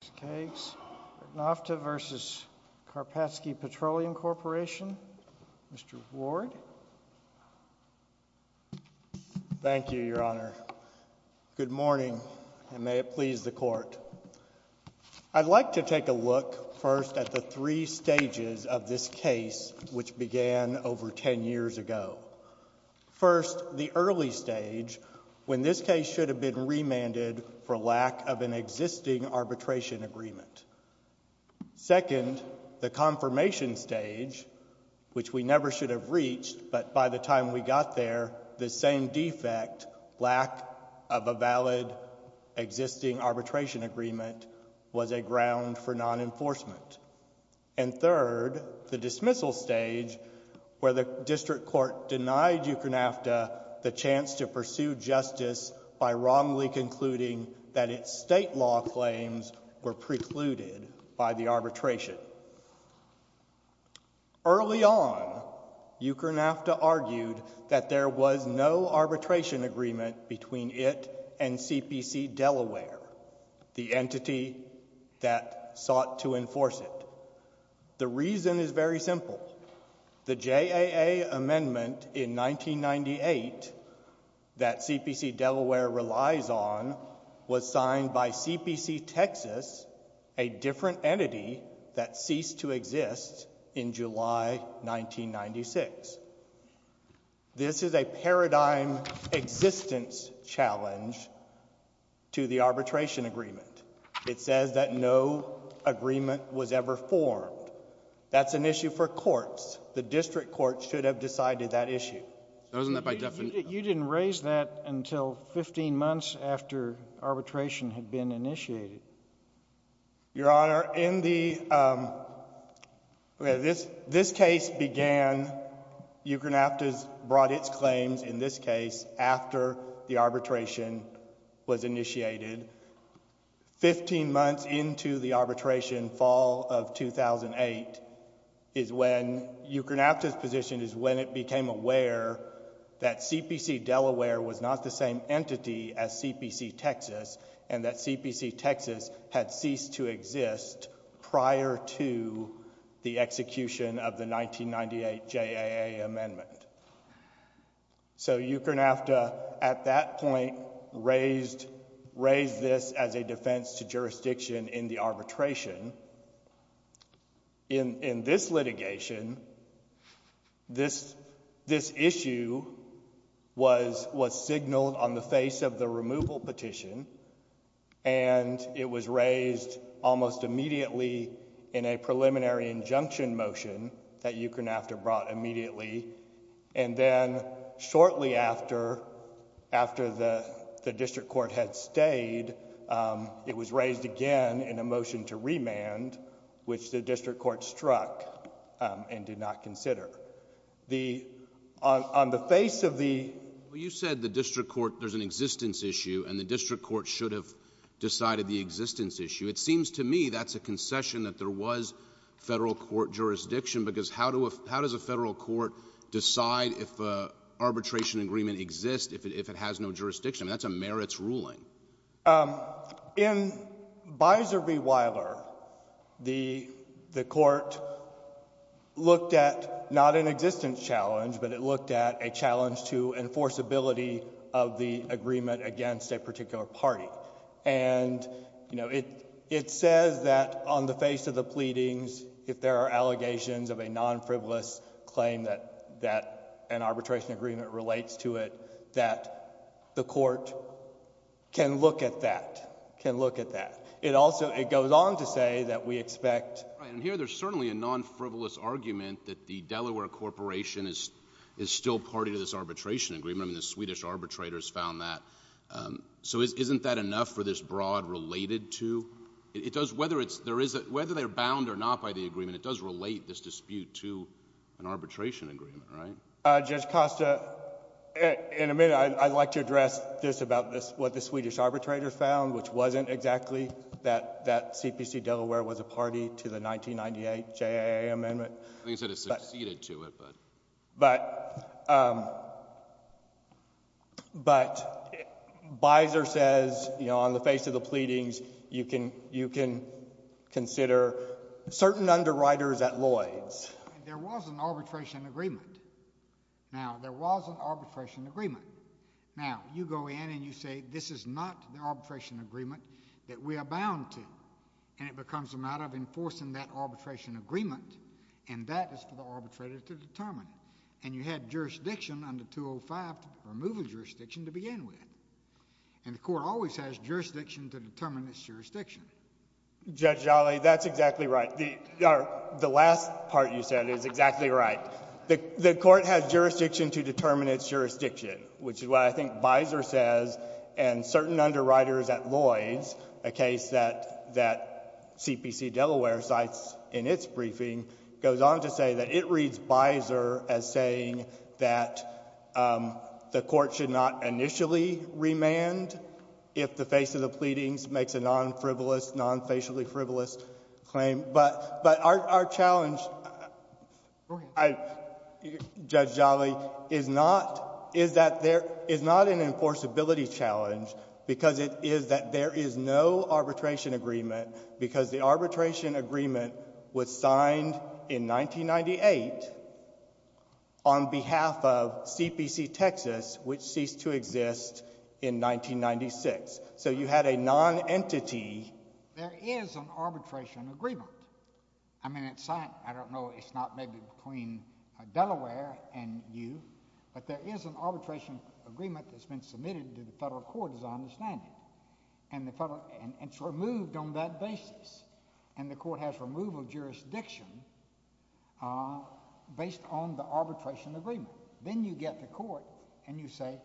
Mr. Ward. Thank you, Your Honor. Good morning, and may it please the Court. I'd like to take a look first at the three stages of this case which began over ten years ago. First, the early stage, when this case should have been remanded for lack of an existing arbitration agreement. Second, the confirmation stage, which we never should have reached, but by the time we got there, the same defect, lack of a valid existing arbitration agreement, was a ground for non-enforcement. And third, the dismissal stage, where the District Court denied Ukrnafta the chance to pursue justice by wrongly concluding that its state law claims were precluded by the arbitration. Early on, Ukrnafta argued that there was no arbitration agreement between it and CPC Delaware, the entity that sought to enforce it. The reason is very simple. The JAA amendment in 1998 that CPC Delaware relies on was signed by CPC Texas, a different entity that ceased to exist in July 1996. This is a paradigm existence challenge to the arbitration agreement. It says that no agreement was ever formed. That's an issue for courts. The District Court should have decided that issue. You didn't raise that until 15 months after arbitration had been initiated. Your Honor, this case began, Ukrnafta brought its claims in this case after the arbitration was initiated, 15 months into the arbitration, fall of 2008, is when Ukrnafta's position is when it became aware that CPC Delaware was not the same entity as CPC Texas, and that CPC Texas had ceased to exist prior to the execution of the 1998 JAA amendment. So, Ukrnafta, at that point, raised this as a defense to jurisdiction in the arbitration. In this litigation, this issue was signaled on the face of the removal petition, and it was raised almost immediately in a preliminary injunction motion that Ukrnafta brought immediately and then shortly after, after the District Court had stayed, it was raised again in a motion to remand, which the District Court struck and did not consider. On the face of the... Well, you said the District Court, there's an existence issue, and the District Court should have decided the existence issue. It seems to me that's a concession that there was federal court jurisdiction, because how does a federal court decide if an arbitration agreement exists if it has no jurisdiction? I mean, that's a merits ruling. In Biser v. Weiler, the court looked at not an existence challenge, but it looked at a challenge to enforceability of the agreement against a particular party, and it says that on the face of the pleadings, if there are allegations of a non-frivolous claim that an arbitration agreement relates to it, that the court can look at that, can look at that. It also... It goes on to say that we expect... Right. And here, there's certainly a non-frivolous argument that the Delaware Corporation is still party to this arbitration agreement, and the Swedish arbitrators found that. So isn't that enough for this broad related to? Whether they're bound or not by the agreement, it does relate this dispute to an arbitration agreement, right? Judge Costa, in a minute, I'd like to address this about what the Swedish arbitrators found, which wasn't exactly that CPC Delaware was a party to the 1998 JAA amendment. I think you said it succeeded to it, but... But, Biser says, on the face of the pleadings, you can consider certain underwriters at Lloyd's. There was an arbitration agreement. Now, there was an arbitration agreement. Now, you go in and you say, this is not the arbitration agreement that we are bound to, and it becomes a matter of enforcing that arbitration agreement, and that is for the arbitrator to determine. And you had jurisdiction under 205 to remove the jurisdiction to begin with, and the court always has jurisdiction to determine its jurisdiction. Judge Jolly, that's exactly right. The last part you said is exactly right. The court has jurisdiction to determine its jurisdiction, which is what I think Biser says, and certain underwriters at Lloyd's, a case that CPC Delaware cites in its briefing, goes on to say that it reads Biser as saying that the court should not initially remand if the face of the pleadings makes a non-frivolous, non-facially frivolous claim. But our challenge, Judge Jolly, is not an enforceability challenge, because it is that there is no arbitration agreement, because the arbitration agreement was signed in 1998 on behalf of CPC Texas, which ceased to exist in 1996. So you had a non-entity. There is an arbitration agreement. I mean, it's signed. I don't know. It's not maybe between Delaware and you. But there is an arbitration agreement that's been submitted to the federal court as I understand it. And it's removed on that basis, and the court has removal jurisdiction based on the arbitration agreement. Then you get the court and you say,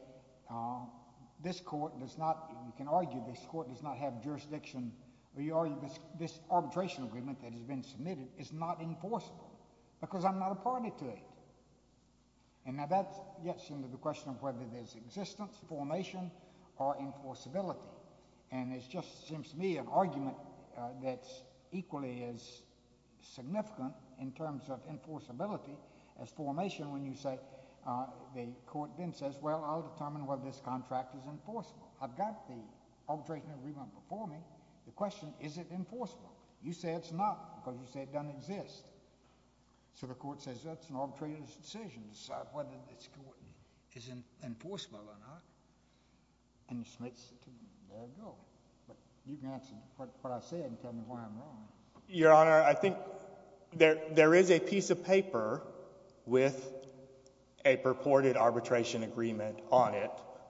this court does not—you can argue this court does not have jurisdiction, or you argue this arbitration agreement that has been submitted is not enforceable, because I'm not a party to it. And now that gets into the question of whether there's existence, formation, or enforceability. And it just seems to me an argument that's equally as significant in terms of enforceability as formation when you say—the court then says, well, I'll determine whether this contract is enforceable. I've got the arbitration agreement before me. The question, is it enforceable? You say it's not, because you say it doesn't exist. So the court says, that's an arbitrator's decision to decide whether this court is enforceable or not. And it just makes—there you go. But you can answer what I said and tell me why I'm wrong. Your Honor, I think there is a piece of paper with a purported arbitration agreement on it,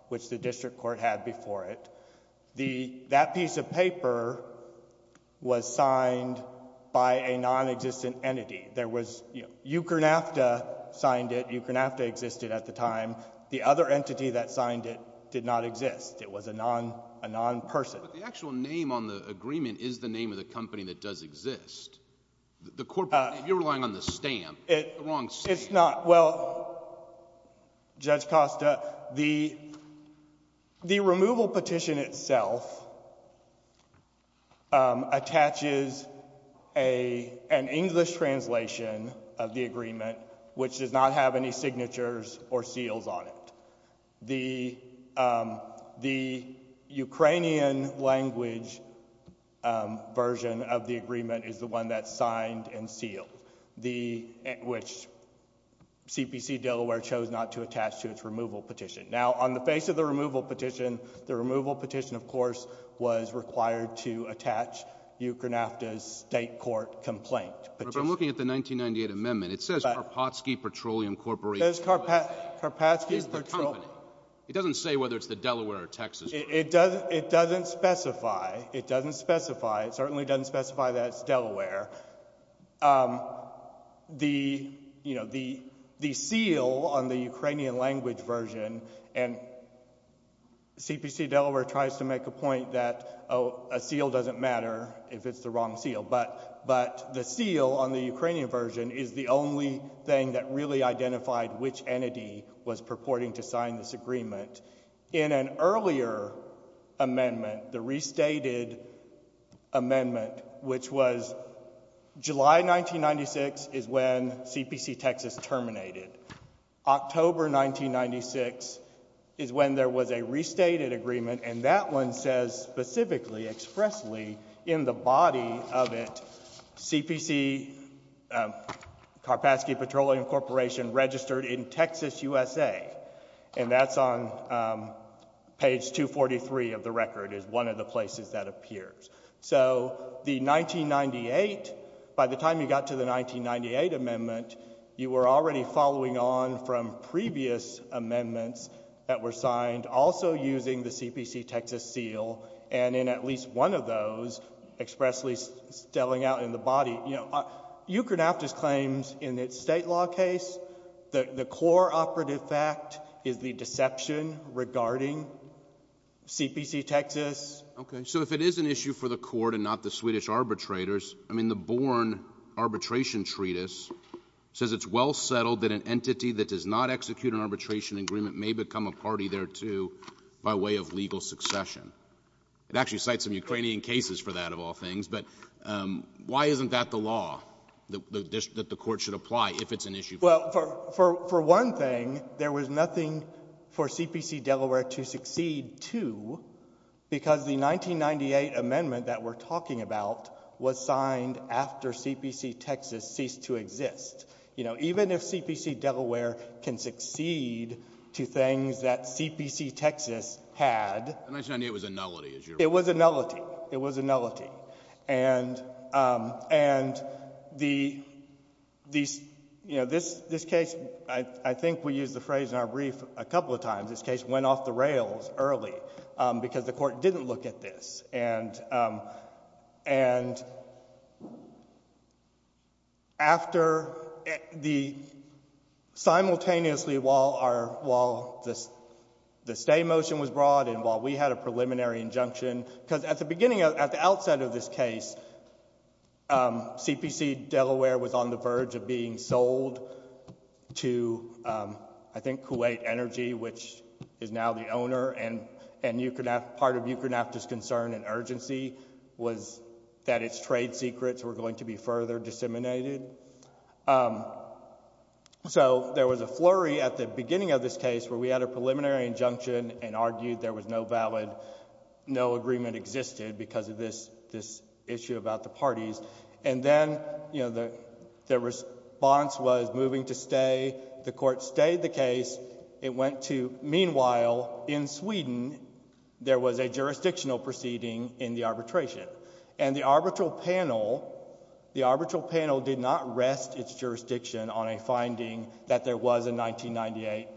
which the district court had before it. That piece of paper was signed by a non-existent entity. There was—Ukrnafta signed it. Ukrnafta existed at the time. The other entity that signed it did not exist. It was a non-person. But the actual name on the agreement is the name of the company that does exist. The corporate—you're relying on the stamp—the wrong stamp. It's not. Well, Judge Costa, the removal petition itself attaches an English translation of the agreement, which does not have any signatures or seals on it. The Ukrainian language version of the agreement is the one that signed and sealed, which CPC-Delaware chose not to attach to its removal petition. Now, on the face of the removal petition, the removal petition, of course, was required to attach Ukrnafta's state court complaint petition. But I'm looking at the 1998 amendment. It says Karpatsky Petroleum Corporation. It doesn't say whether it's the Delaware or Texas— It doesn't specify. It doesn't specify. It certainly doesn't specify that it's Delaware. The seal on the Ukrainian language version—and CPC-Delaware tries to make a point that a seal doesn't matter if it's the wrong seal. But the seal on the Ukrainian version is the only thing that really identified which entity was purporting to sign this agreement. In an earlier amendment, the restated amendment, which was July 1996 is when CPC-Texas terminated. October 1996 is when there was a restated agreement, and that one says specifically, expressly, in the body of it, CPC—Karpatsky Petroleum Corporation—registered in Texas, USA. And that's on page 243 of the record, is one of the places that appears. So the 1998—by the time you got to the 1998 amendment, you were already following on from previous amendments that were signed, also using the CPC-Texas seal, and in at least one of those, expressly spelling out in the body—you know, you can have these claims in the state law case. The core operative fact is the deception regarding CPC-Texas. Okay. So if it is an issue for the court and not the Swedish arbitrators, I mean, the Born Arbitration Treatise says it's well settled that an entity that does not execute an arbitration agreement may become a party thereto by way of legal succession. It actually cites some Ukrainian cases for that, of all things, but why isn't that the law, that the court should apply if it's an issue? Well, for one thing, there was nothing for CPC-Delaware to succeed to because the 1998 CPC-Texas ceased to exist. You know, even if CPC-Delaware can succeed to things that CPC-Texas had— The 1998 was a nullity, is your— It was a nullity. It was a nullity. And the—you know, this case, I think we used the phrase in our brief a couple of times, this case went off the rails early because the court didn't look at this. And after the—simultaneously while the stay motion was brought in, while we had a preliminary injunction, because at the beginning, at the outset of this case, CPC-Delaware was on the verge of being sold to, I think, Kuwait Energy, which is now the owner and part of that urgency was that its trade secrets were going to be further disseminated. So there was a flurry at the beginning of this case where we had a preliminary injunction and argued there was no valid—no agreement existed because of this issue about the parties. And then, you know, the response was moving to stay. The court stayed the case. It went to—meanwhile, in Sweden, there was a jurisdictional proceeding in the arbitration. And the arbitral panel—the arbitral panel did not rest its jurisdiction on a finding that there was a 1998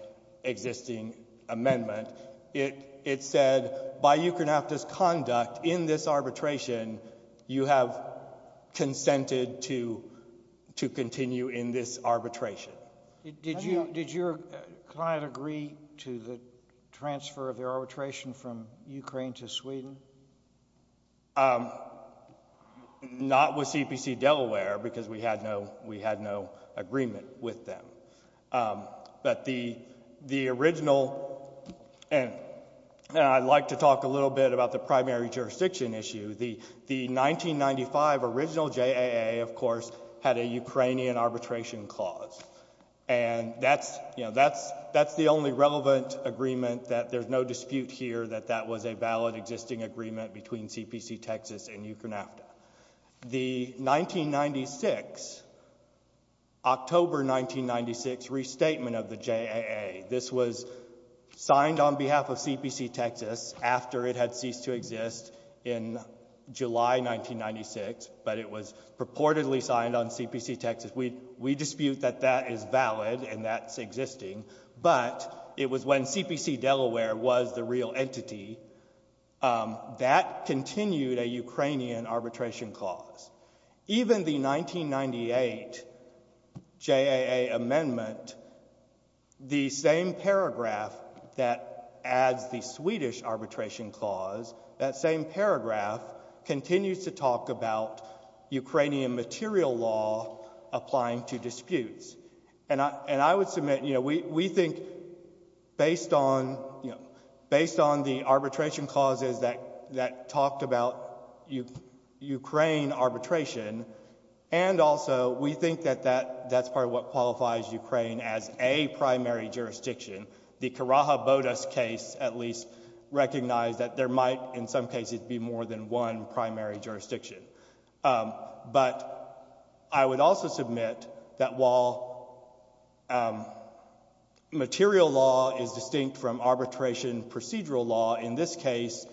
existing amendment. It said, by Ukernafta's conduct in this arbitration, you have consented to continue in this arbitration. Did your client agree to the transfer of their arbitration from Ukraine to Sweden? Not with CPC-Delaware, because we had no agreement with them. But the original—and I'd like to talk a little bit about the primary jurisdiction issue. The 1995 original JAA, of course, had a Ukrainian arbitration clause. And that's—you know, that's the only relevant agreement that there's no dispute here that that was a valid existing agreement between CPC-Texas and Ukernafta. The 1996—October 1996 restatement of the JAA, this was signed on behalf of CPC-Texas after it had ceased to exist in July 1996, but it was purportedly signed on CPC-Texas. We dispute that that is valid and that's existing. But it was when CPC-Delaware was the real entity, that continued a Ukrainian arbitration clause. Even the 1998 JAA amendment, the same paragraph that adds the Swedish arbitration clause, that same paragraph continues to talk about Ukrainian material law applying to disputes. And I would submit, you know, we think based on, you know, based on the arbitration clauses that talked about Ukraine arbitration, and also we think that that's part of what qualifies Ukraine as a primary jurisdiction, the Karaha-Bodas case at least recognized that there might in some cases be more than one primary jurisdiction. But I would also submit that while material law is distinct from arbitration procedural law, in this case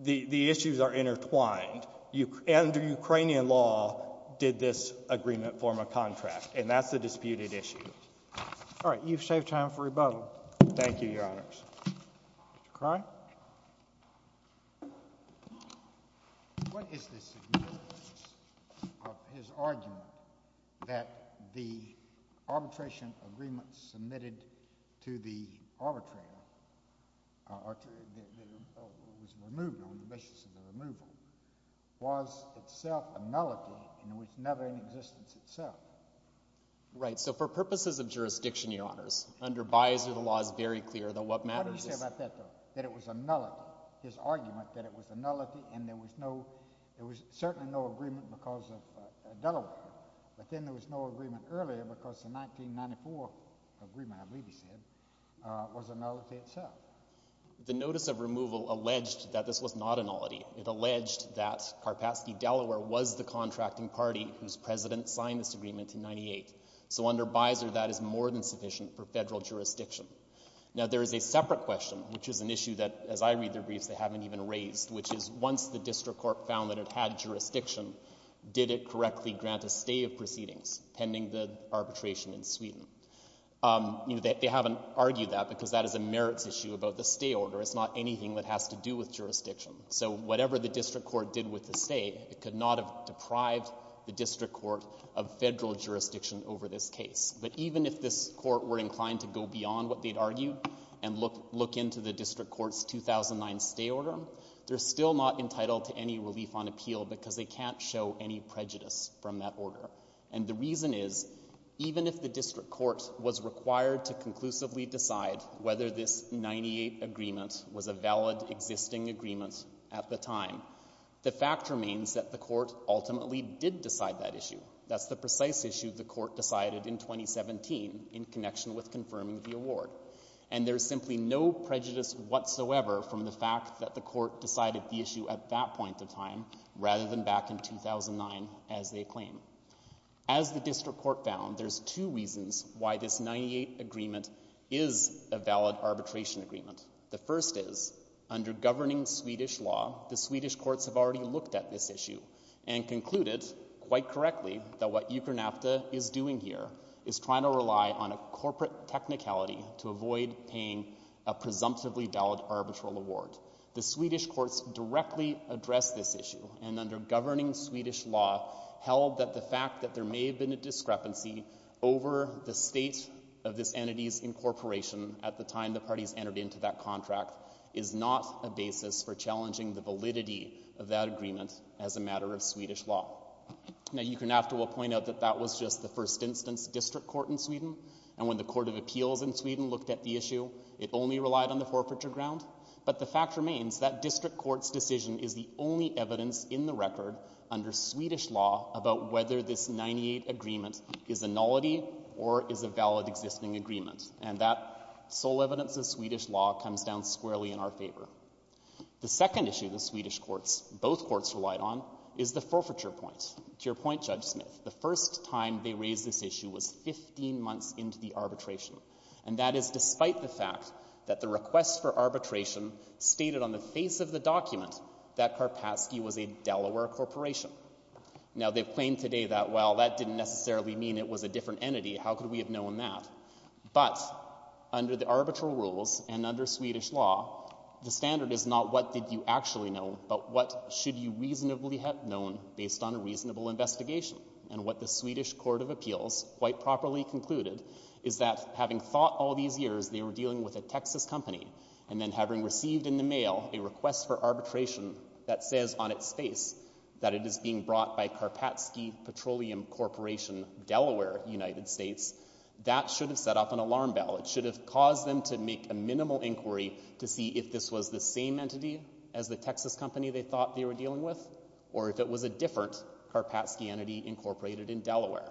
the issues are intertwined. Under Ukrainian law did this agreement form a contract, and that's a disputed issue. All right. You've saved time for rebuttal. Thank you, Your Honors. Mr. Cronin? What is the significance of his argument that the arbitration agreements submitted to the legislature that was removed, on the basis of the removal, was itself a nullity and was never in existence itself? Right. So for purposes of jurisdiction, Your Honors, under Biser the law is very clear that what matters is— What did he say about that, though, that it was a nullity, his argument that it was a nullity and there was no—there was certainly no agreement because of Delaware, but then there was no agreement earlier because the 1994 agreement, I believe he said, was a nullity itself. The notice of removal alleged that this was not a nullity. It alleged that Karpatsky Delaware was the contracting party whose president signed this agreement in 98. So under Biser that is more than sufficient for federal jurisdiction. Now there is a separate question, which is an issue that, as I read their briefs, they haven't even raised, which is once the district court found that it had jurisdiction, did it correctly grant a stay of proceedings pending the arbitration in Sweden? You know, they haven't argued that because that is a merits issue about the stay order. It's not anything that has to do with jurisdiction. So whatever the district court did with the stay, it could not have deprived the district court of federal jurisdiction over this case. But even if this court were inclined to go beyond what they'd argued and look into the district court's 2009 stay order, they're still not entitled to any relief on appeal because they can't show any prejudice from that order. And the reason is, even if the district court was required to conclusively decide whether this 98 agreement was a valid existing agreement at the time, the fact remains that the court ultimately did decide that issue. That's the precise issue the court decided in 2017 in connection with confirming the award. And there's simply no prejudice whatsoever from the fact that the court decided the issue at that point in time rather than back in 2009, as they claim. As the district court found, there's two reasons why this 98 agreement is a valid arbitration agreement. The first is, under governing Swedish law, the Swedish courts have already looked at this issue and concluded, quite correctly, that what UKERNAFTA is doing here is trying to rely on a corporate technicality to avoid paying a presumptively valid arbitral award. The Swedish courts directly addressed this issue, and under governing Swedish law, held that the fact that there may have been a discrepancy over the state of this entity's incorporation at the time the parties entered into that contract is not a basis for challenging the validity of that agreement as a matter of Swedish law. Now, UKERNAFTA will point out that that was just the first instance district court in Sweden, and when the Court of Appeals in Sweden looked at the issue, it only relied on the forfeiture ground. But the fact remains that district court's decision is the only evidence in the record, under Swedish law, about whether this 98 agreement is a nullity or is a valid existing agreement. And that sole evidence of Swedish law comes down squarely in our favor. The second issue the Swedish courts, both courts relied on, is the forfeiture point. To your point, Judge Smith, the first time they raised this issue was 15 months into the arbitration, and that is despite the fact that the request for arbitration stated on the face of the document that Karpatsky was a Delaware corporation. Now they've claimed today that, well, that didn't necessarily mean it was a different entity. How could we have known that? But under the arbitral rules and under Swedish law, the standard is not what did you actually know, but what should you reasonably have known based on a reasonable investigation, and what the Swedish court of appeals quite properly concluded is that having thought all these years they were dealing with a Texas company, and then having received in the mail a request for arbitration that says on its face that it is being brought by Karpatsky Petroleum Corporation, Delaware, United States, that should have set off an alarm bell. It should have caused them to make a minimal inquiry to see if this was the same entity as the Texas company they thought they were dealing with, or if it was a different Karpatsky entity incorporated in Delaware.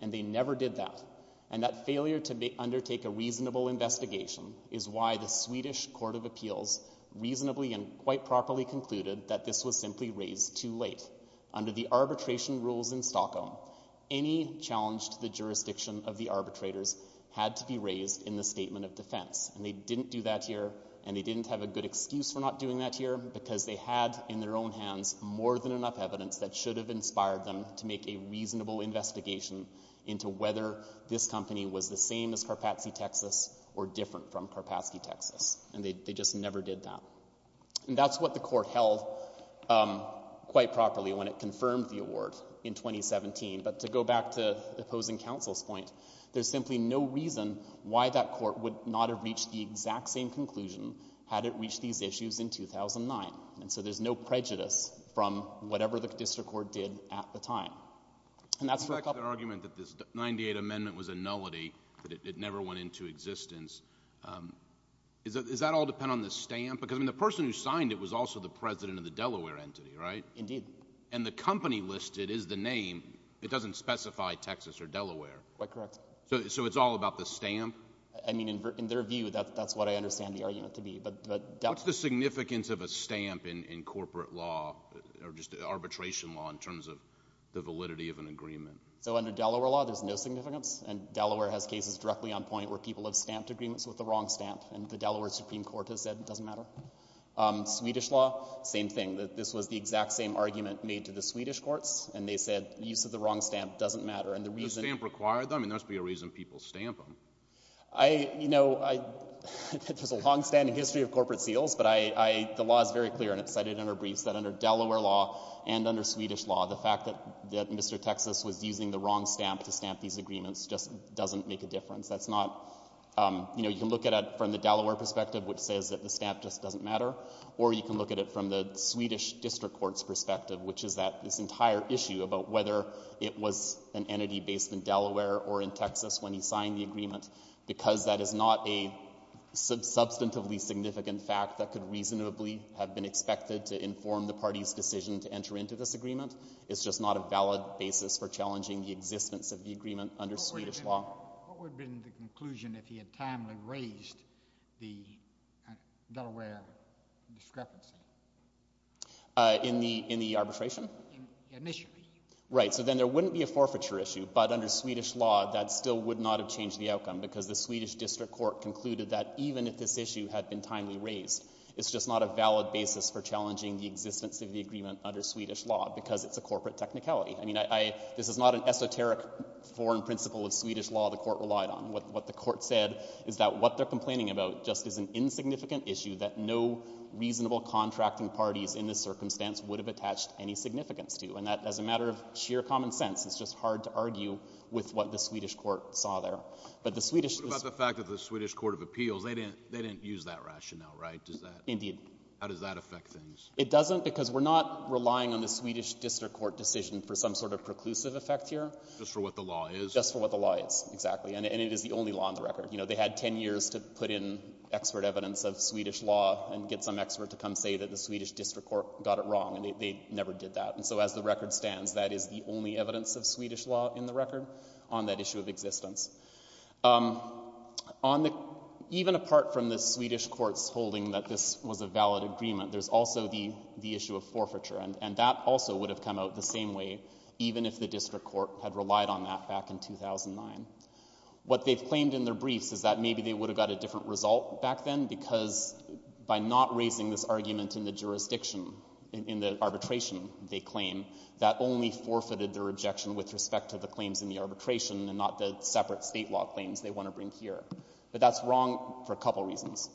And they never did that. And that failure to undertake a reasonable investigation is why the Swedish court of appeals reasonably and quite properly concluded that this was simply raised too late. Under the arbitration rules in Stockholm, any challenge to the jurisdiction of the arbitrators had to be raised in the statement of defense, and they didn't do that here, and they didn't have a good excuse for not doing that here, because they had in their own hands more than they should have inspired them to make a reasonable investigation into whether this company was the same as Karpatsky Texas or different from Karpatsky Texas, and they just never did that. And that's what the court held quite properly when it confirmed the award in 2017, but to go back to the opposing counsel's point, there's simply no reason why that court would not have reached the exact same conclusion had it reached these issues in 2009, and so there's no prejudice from whatever the district court did at the time. And that's for a couple— In fact, their argument that this 98 Amendment was a nullity, that it never went into existence, does that all depend on the stamp? Because, I mean, the person who signed it was also the president of the Delaware entity, right? Indeed. And the company listed is the name. It doesn't specify Texas or Delaware. Quite correct. So it's all about the stamp? I mean, in their view, that's what I understand the argument to be, but— What's the significance of a stamp in corporate law, or just arbitration law, in terms of the validity of an agreement? So under Delaware law, there's no significance, and Delaware has cases directly on point where people have stamped agreements with the wrong stamp, and the Delaware Supreme Court has said it doesn't matter. Swedish law, same thing, that this was the exact same argument made to the Swedish courts, and they said the use of the wrong stamp doesn't matter, and the reason— Does the stamp require them? I mean, there must be a reason people stamp them. I, you know, there's a long-standing history of corporate seals, but I, the law is very clear, and it's cited in our briefs, that under Delaware law and under Swedish law, the fact that Mr. Texas was using the wrong stamp to stamp these agreements just doesn't make a difference. That's not, you know, you can look at it from the Delaware perspective, which says that the stamp just doesn't matter, or you can look at it from the Swedish district courts perspective, which is that this entire issue about whether it was an entity based in Delaware or in Texas when he signed the agreement, because that is not a substantively significant fact that could reasonably have been expected to inform the party's decision to enter into this agreement. It's just not a valid basis for challenging the existence of the agreement under Swedish law. What would have been the conclusion if he had timely raised the Delaware discrepancy? In the arbitration? Initially. Right, so then there wouldn't be a forfeiture issue, but under Swedish law, that still would not have changed the outcome, because the Swedish district court concluded that even if this issue had been timely raised, it's just not a valid basis for challenging the existence of the agreement under Swedish law, because it's a corporate technicality. I mean, I, I, this is not an esoteric foreign principle of Swedish law the court relied on. What, what the court said is that what they're complaining about just is an insignificant issue that no reasonable contracting parties in this circumstance would have attached any matter of sheer common sense. It's just hard to argue with what the Swedish court saw there, but the Swedish, the fact that the Swedish court of appeals, they didn't, they didn't use that rationale, right? Does that, how does that affect things? It doesn't, because we're not relying on the Swedish district court decision for some sort of preclusive effect here, just for what the law is, just for what the law is exactly. And it is the only law on the record. You know, they had 10 years to put in expert evidence of Swedish law and get some expert to come say that the Swedish district court got it wrong and they never did that. And so as the record stands, that is the only evidence of Swedish law in the record on that issue of existence. On the, even apart from the Swedish court's holding that this was a valid agreement, there's also the, the issue of forfeiture and, and that also would have come out the same way even if the district court had relied on that back in 2009. What they've claimed in their briefs is that maybe they would have got a different result back then because by not raising this argument in the jurisdiction, in, in the arbitration, they claim that only forfeited their objection with respect to the claims in the arbitration and not the separate state law claims they want to bring here. But that's wrong for a couple reasons.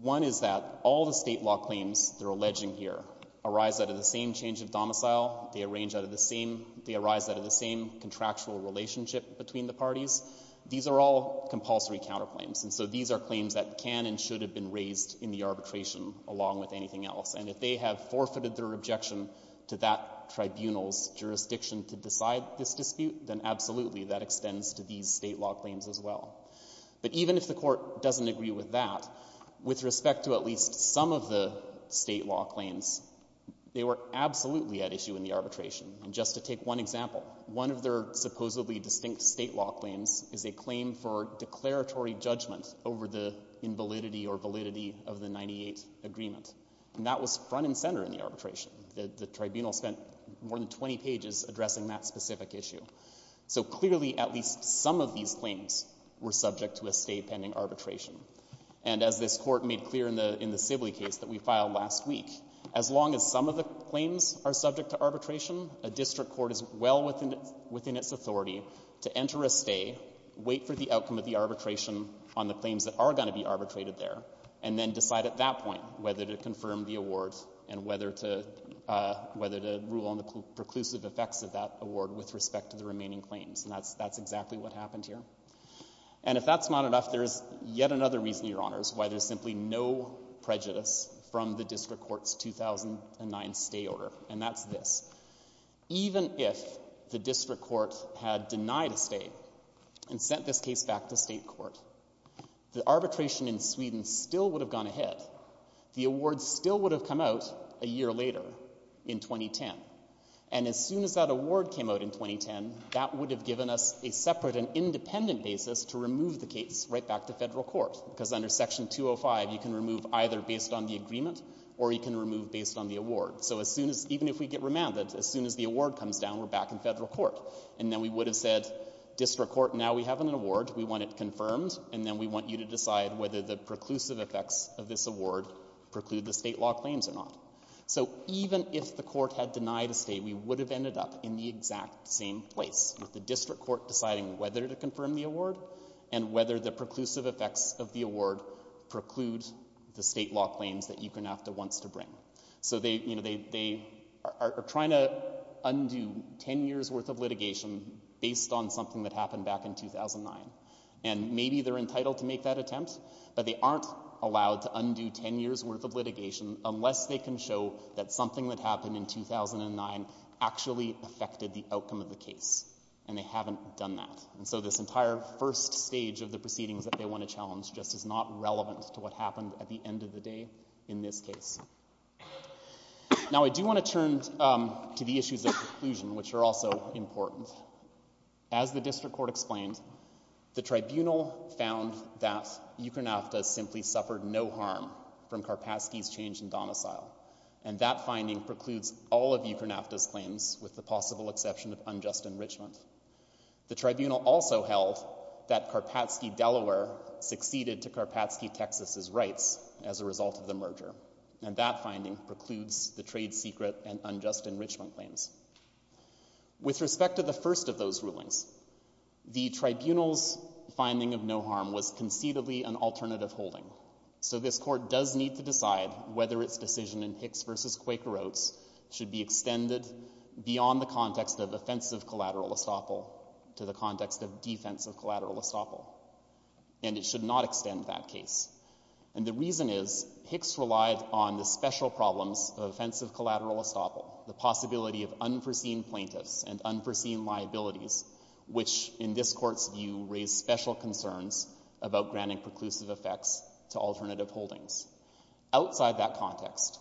One is that all the state law claims they're alleging here arise out of the same change of domicile, they arrange out of the same, they arise out of the same contractual relationship between the parties. These are all compulsory counterclaims. And so these are claims that can and should have been raised in the arbitration along with anything else. And if they have forfeited their objection to that tribunal's jurisdiction to decide this dispute, then absolutely that extends to these state law claims as well. But even if the court doesn't agree with that, with respect to at least some of the state law claims, they were absolutely at issue in the arbitration. And just to take one example, one of their supposedly distinct state law claims is a claim for declaratory judgment over the invalidity or validity of the 98 Agreement. And that was front and center in the arbitration. The tribunal spent more than 20 pages addressing that specific issue. So clearly at least some of these claims were subject to a stay pending arbitration. And as this Court made clear in the Sibley case that we filed last week, as long as some of the claims are subject to arbitration, a district court is well within its authority to enter a stay, wait for the outcome of the arbitration on the claims that are going to be arbitrated there, and then decide at that point whether to confirm the award and whether to rule on the preclusive effects of that award with respect to the remaining claims. And that's exactly what happened here. And if that's not enough, there is yet another reason, Your Honors, why there's simply no prejudice from the district court's 2009 stay order, and that's this. Even if the district court had denied a stay and sent this case back to State court, the arbitration in Sweden still would have gone ahead. The award still would have come out a year later in 2010. And as soon as that award came out in 2010, that would have given us a separate and independent basis to remove the case right back to Federal court. Because under Section 205, you can remove either based on the agreement or you can remove based on the award. So as soon as, even if we get remanded, as soon as the award comes down, we're back in Federal court. And then we would have said, district court, now we have an award. We want it confirmed. And then we want you to decide whether the preclusive effects of this award preclude the state law claims or not. So even if the court had denied a stay, we would have ended up in the exact same place, with the district court deciding whether to confirm the award and whether the preclusive effects of the award preclude the state law claims that ECRNAFTA wants to bring. So they, you know, they are trying to undo 10 years' worth of litigation based on this claim, and maybe they're entitled to make that attempt, but they aren't allowed to undo 10 years' worth of litigation unless they can show that something that happened in 2009 actually affected the outcome of the case. And they haven't done that. And so this entire first stage of the proceedings that they want to challenge just is not relevant to what happened at the end of the day in this case. Now, I do want to turn to the issues of conclusion, which are also important. As the district court explained, the tribunal found that ECRNAFTA simply suffered no harm from Karpatsky's change in domicile. And that finding precludes all of ECRNAFTA's claims, with the possible exception of unjust enrichment. The tribunal also held that Karpatsky Delaware succeeded to Karpatsky Texas' rights as a result of the merger. And that finding precludes the trade secret and unjust enrichment claims. With respect to the first of those rulings, the tribunal's finding of no harm was conceivably an alternative holding. So this court does need to decide whether its decision in Hicks v. Quaker Oats should be extended beyond the context of offensive collateral estoppel to the context of defensive collateral estoppel. And it should not extend that case. And the reason is Hicks relied on the special problems of offensive collateral estoppel, the possibility of unforeseen plaintiffs and unforeseen liabilities, which, in this court's view, raise special concerns about granting preclusive effects to alternative holdings. Outside that context,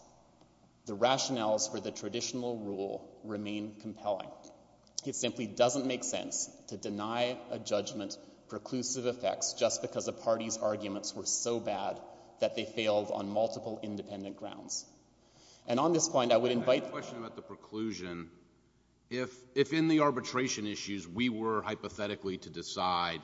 the rationales for the traditional rule remain compelling. It simply doesn't make sense to deny a judgment preclusive effects just because a party's arguments were so bad that they failed on multiple independent grounds. And on this point, I would invite— I have a question about the preclusion. If, in the arbitration issues, we were hypothetically to decide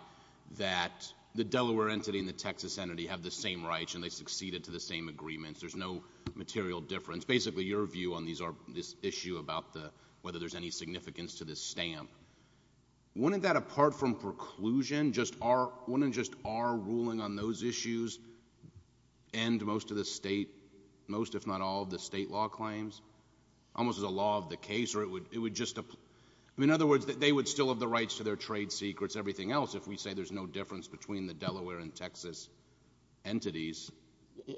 that the Delaware entity and the Texas entity have the same rights and they succeeded to the same agreements, there's no material difference, basically your view on this issue about whether there's any significance to this stamp, wouldn't that, apart from preclusion, just our ruling on those issues end most of the state—most, if not all, of the state law claims? Almost as a law of the case, or it would just—I mean, in other words, they would still have the rights to their trade secrets, everything else, if we say there's no difference between the Delaware and Texas entities.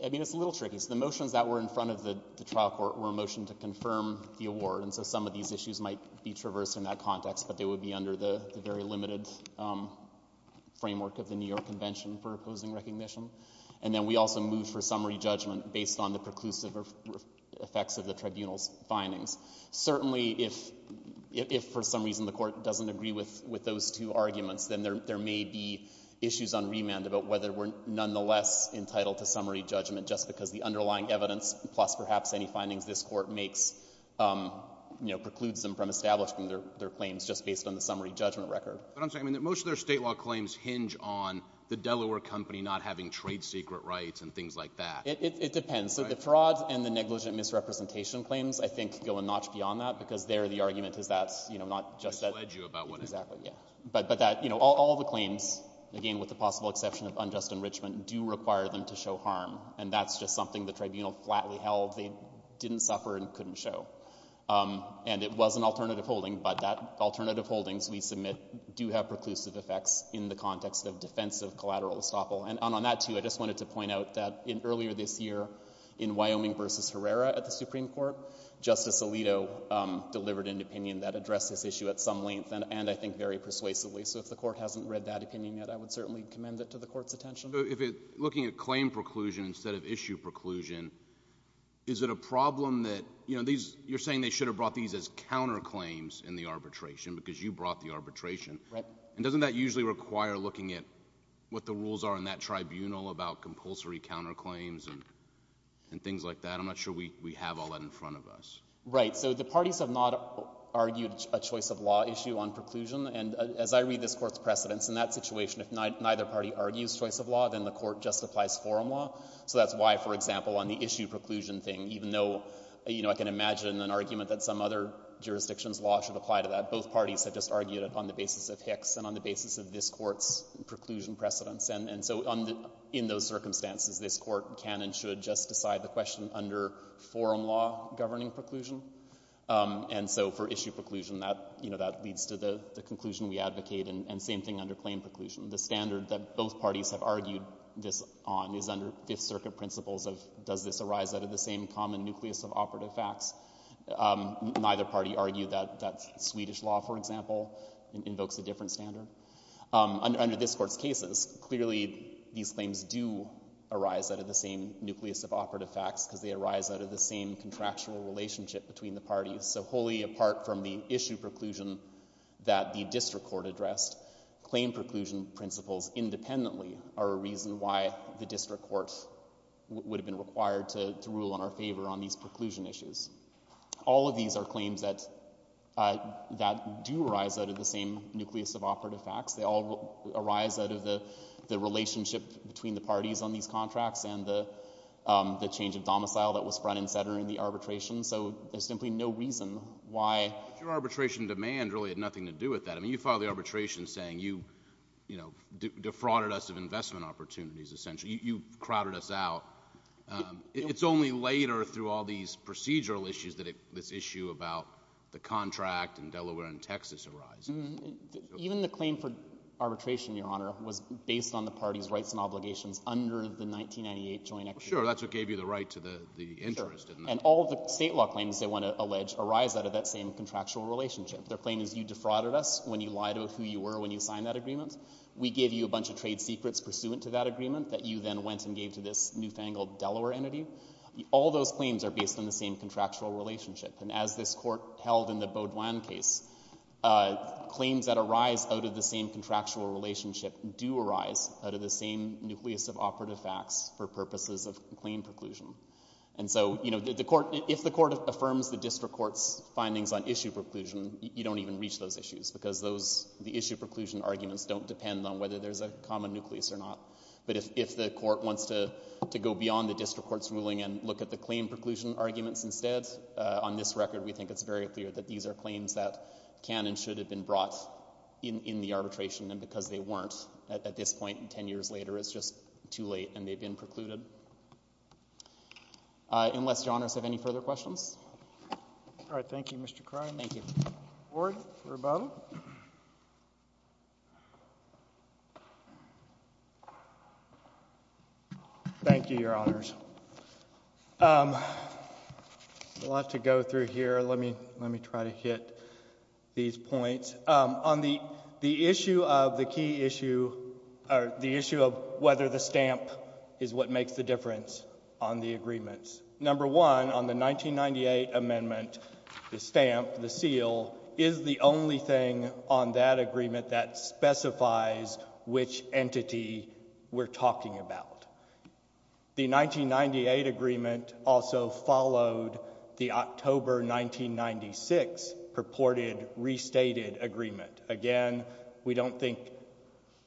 I mean, it's a little tricky. So the motions that were in front of the trial court were a motion to confirm the award. And so some of these issues might be traversed in that context, but they would be under the very limited framework of the New York Convention for Opposing Recognition. And then we also moved for summary judgment based on the preclusive effects of the tribunal's findings. Certainly, if for some reason the Court doesn't agree with those two arguments, then there may be issues on remand about whether we're nonetheless entitled to summary judgment just because the underlying evidence, plus perhaps any findings this Court makes, you know, precludes them from establishing their claims just based on the summary judgment record. But I'm saying, I mean, that most of their state law claims hinge on the Delaware company not having trade secret rights and things like that. It depends. So the fraud and the negligent misrepresentation claims, I think, go a notch beyond that because there, the argument is that's, you know, not just that— They pledge you about what happened. Exactly. Yeah. But that, you know, all the claims, again, with the possible exception of unjust enrichment, do require them to show harm. And that's just something the tribunal flatly held they didn't suffer and couldn't show. And it was an alternative holding, but that alternative holdings we submit do have preclusive effects in the context of defensive collateral estoppel. And on that, too, I just wanted to point out that earlier this year in Wyoming v. Herrera at the Supreme Court, Justice Alito delivered an opinion that addressed this issue at some length and, I think, very persuasively. So if the Court hasn't read that opinion yet, I would certainly commend it to the Court's attention. So if it, looking at claim preclusion instead of issue preclusion, is it a problem that, you know, these, you're saying they should have brought these as counterclaims in the arbitration because you brought the arbitration. Right. And doesn't that usually require looking at what the rules are in that tribunal about compulsory counterclaims and things like that? I'm not sure we have all that in front of us. Right. So the parties have not argued a choice of law issue on preclusion. And as I read this Court's precedents, in that situation, if neither party argues choice of law, then the Court justifies forum law. So that's why, for example, on the issue preclusion thing, even though, you know, I can imagine an argument that some other jurisdiction's law should apply to that, both parties have just argued it on the basis of Hicks and on the basis of this Court's preclusion precedents. And so in those circumstances, this Court can and should just decide the question under forum law governing preclusion. And so for issue preclusion, that, you know, that leads to the conclusion we advocate. And same thing under claim preclusion. The standard that both parties have argued this on is under Fifth Circuit principles of does this arise out of the same common nucleus of operative facts. Neither party argued that Swedish law, for example, invokes a different standard. Under this Court's cases, clearly these claims do arise out of the same nucleus of operative facts because they arise out of the same contractual relationship between the parties. So wholly apart from the issue preclusion that the District Court addressed, claim preclusion principles independently are a reason why the District Court would have been required to rule in our favor on these preclusion issues. All of these are claims that do arise out of the same nucleus of operative facts. They all arise out of the relationship between the parties on these contracts and the change of domicile that was front and center in the arbitration. So there's simply no reason why... But your arbitration demand really had nothing to do with that. I mean, you filed the arbitration saying you, you know, defrauded us of investment opportunities, essentially. You crowded us out. It's only later through all these procedural issues that this issue about the contract in Delaware and Texas arises. Even the claim for arbitration, Your Honor, was based on the parties' rights and obligations under the 1998 Joint Executive Order. Sure. That's what gave you the right to the interest. Sure. And all the state law claims, they want to allege, arise out of that same contractual relationship. Their claim is you defrauded us when you lied about who you were when you signed that agreement. We gave you a bunch of trade secrets pursuant to that agreement that you then went and gave to this newfangled Delaware entity. All those claims are based on the same contractual relationship. And as this Court held in the Beaudoin case, claims that arise out of the same contractual relationship do arise out of the same nucleus of operative facts for purposes of claim preclusion. And so, you know, if the Court affirms the District Court's findings on issue preclusion, you don't even reach those issues because the issue preclusion arguments don't depend on whether there's a common nucleus or not. But if the Court wants to go beyond the District Court's ruling and look at the claim preclusion arguments instead, on this record we think it's very clear that these are claims that can and should have been brought in the arbitration, and because they weren't, at this point ten have been precluded. Unless Your Honors have any further questions? All right. Thank you, Mr. Cronin. Thank you. Ward for rebuttal. Thank you, Your Honors. There's a lot to go through here. Let me try to hit these points. On the issue of the key issue, or the issue of whether the stamp is what makes the difference on the agreements, number one, on the 1998 amendment, the stamp, the seal, is the only thing on that agreement that specifies which entity we're talking about. The 1998 agreement also followed the October 1996 purported restated agreement. Again, we don't think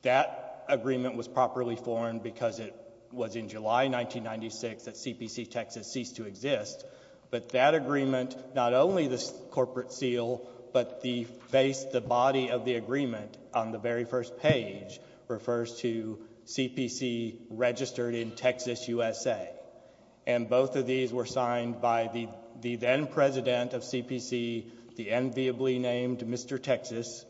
that agreement was properly formed because it was in July 1996 that CPC Texas ceased to exist, but that agreement, not only the corporate seal, but the body of the agreement on the very first page refers to CPC registered in Texas, USA, and both of these were signed by the then president of CPC, the enviably named Mr. Texas.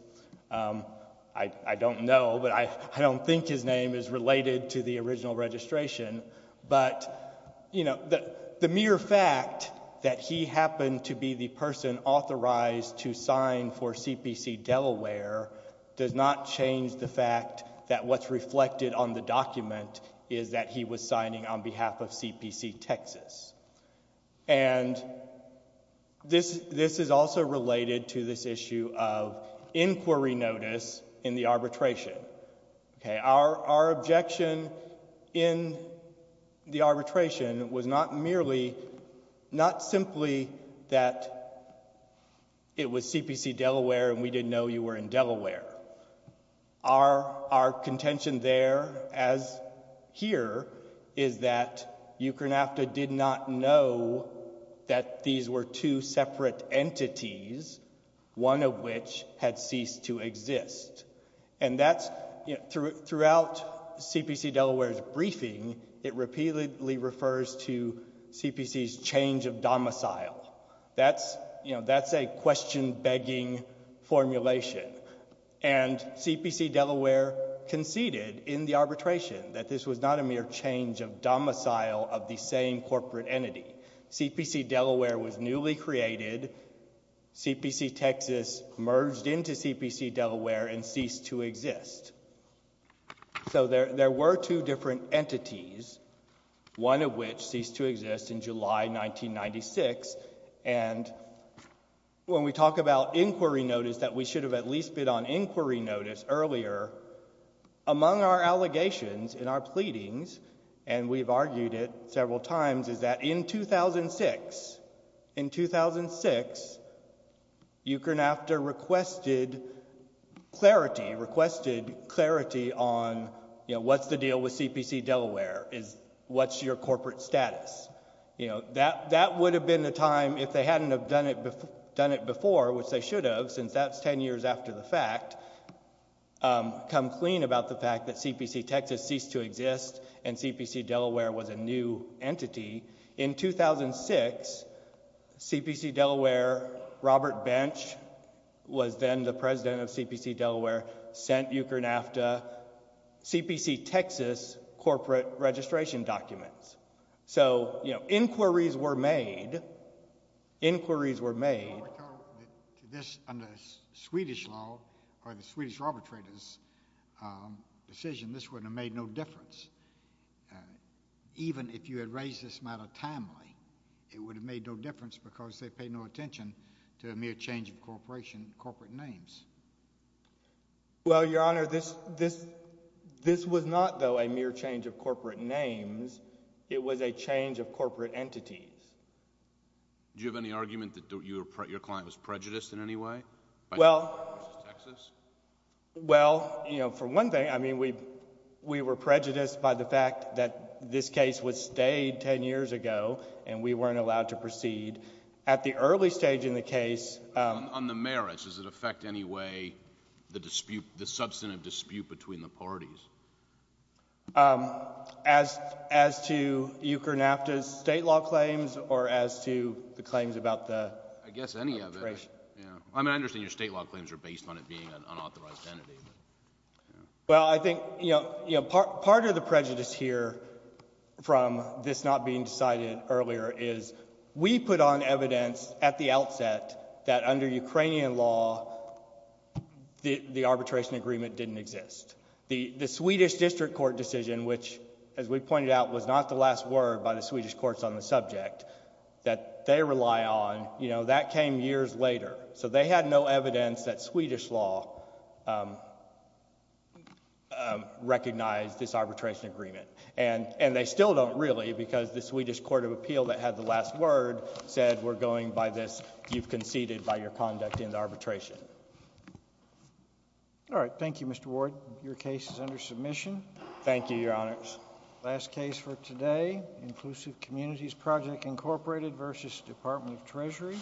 I don't know, but I don't think his name is related to the original registration, but the mere fact that he happened to be the person authorized to sign for CPC Delaware does not change the fact that what's reflected on the document is that he was signing on behalf of CPC Texas. This is also related to this issue of inquiry notice in the arbitration. Our objection in the arbitration was not merely, not simply that it was CPC Delaware and we didn't know you were in Delaware. Our contention there, as here, is that UCANAFTA did not know that these were two separate entities, one of which had ceased to exist. Throughout CPC Delaware's briefing, it repeatedly refers to CPC's change of domicile. That's a question-begging formulation, and CPC Delaware conceded in the arbitration that this was not a mere change of domicile of the same corporate entity. CPC Delaware was newly created. CPC Texas merged into CPC Delaware and ceased to exist. So there were two different entities, one of which ceased to exist in July 1996, and when we talk about inquiry notice that we should have at least been on inquiry notice earlier, among our allegations and our pleadings, and we've argued it several times, is that in 2006, in 2006, UCANAFTA requested clarity, requested clarity on, you know, what's the deal with CPC Delaware? What's your corporate status? You know, that would have been the time, if they hadn't have done it before, which they should have, since that's ten years after the fact, come clean about the fact that CPC Texas ceased to exist and CPC Delaware was a new entity. In 2006, CPC Delaware, Robert Bench, was then the president of CPC Delaware, sent UCANAFTA CPC Texas corporate registration documents. So inquiries were made, inquiries were made. Your Honor, to this, under Swedish law, or the Swedish arbitrators' decision, this would have made no difference. Even if you had raised this matter timely, it would have made no difference because they paid no attention to a mere change of corporation, corporate names. Well, Your Honor, this, this, this was not, though, a mere change of corporate names. It was a change of corporate entities. Do you have any argument that your client was prejudiced in any way by UCANAFTA v. Texas? Well, you know, for one thing, I mean, we were prejudiced by the fact that this case was stayed ten years ago and we weren't allowed to proceed. At the early stage in the case... On the merits, does it affect any way the dispute, the substantive dispute between the parties? Um, as, as to UCANAFTA's state law claims or as to the claims about the... I guess any of it. Yeah. I mean, I understand your state law claims are based on it being an unauthorized entity, but... Well, I think, you know, you know, part, part of the prejudice here from this not being decided earlier is we put on evidence at the outset that under Ukrainian law, the, the arbitration agreement didn't exist. The, the Swedish district court decision, which, as we pointed out, was not the last word by the Swedish courts on the subject, that they rely on, you know, that came years later. So they had no evidence that Swedish law, um, um, recognized this arbitration agreement. And they still don't really because the Swedish court of appeal that had the last word said we're going by this, you've conceded by your conduct in the arbitration. All right. Thank you, Mr. Ward. Your case is under submission. Thank you, Your Honors. Last case for today, Inclusive Communities Project, Incorporated v. Department of Treasury.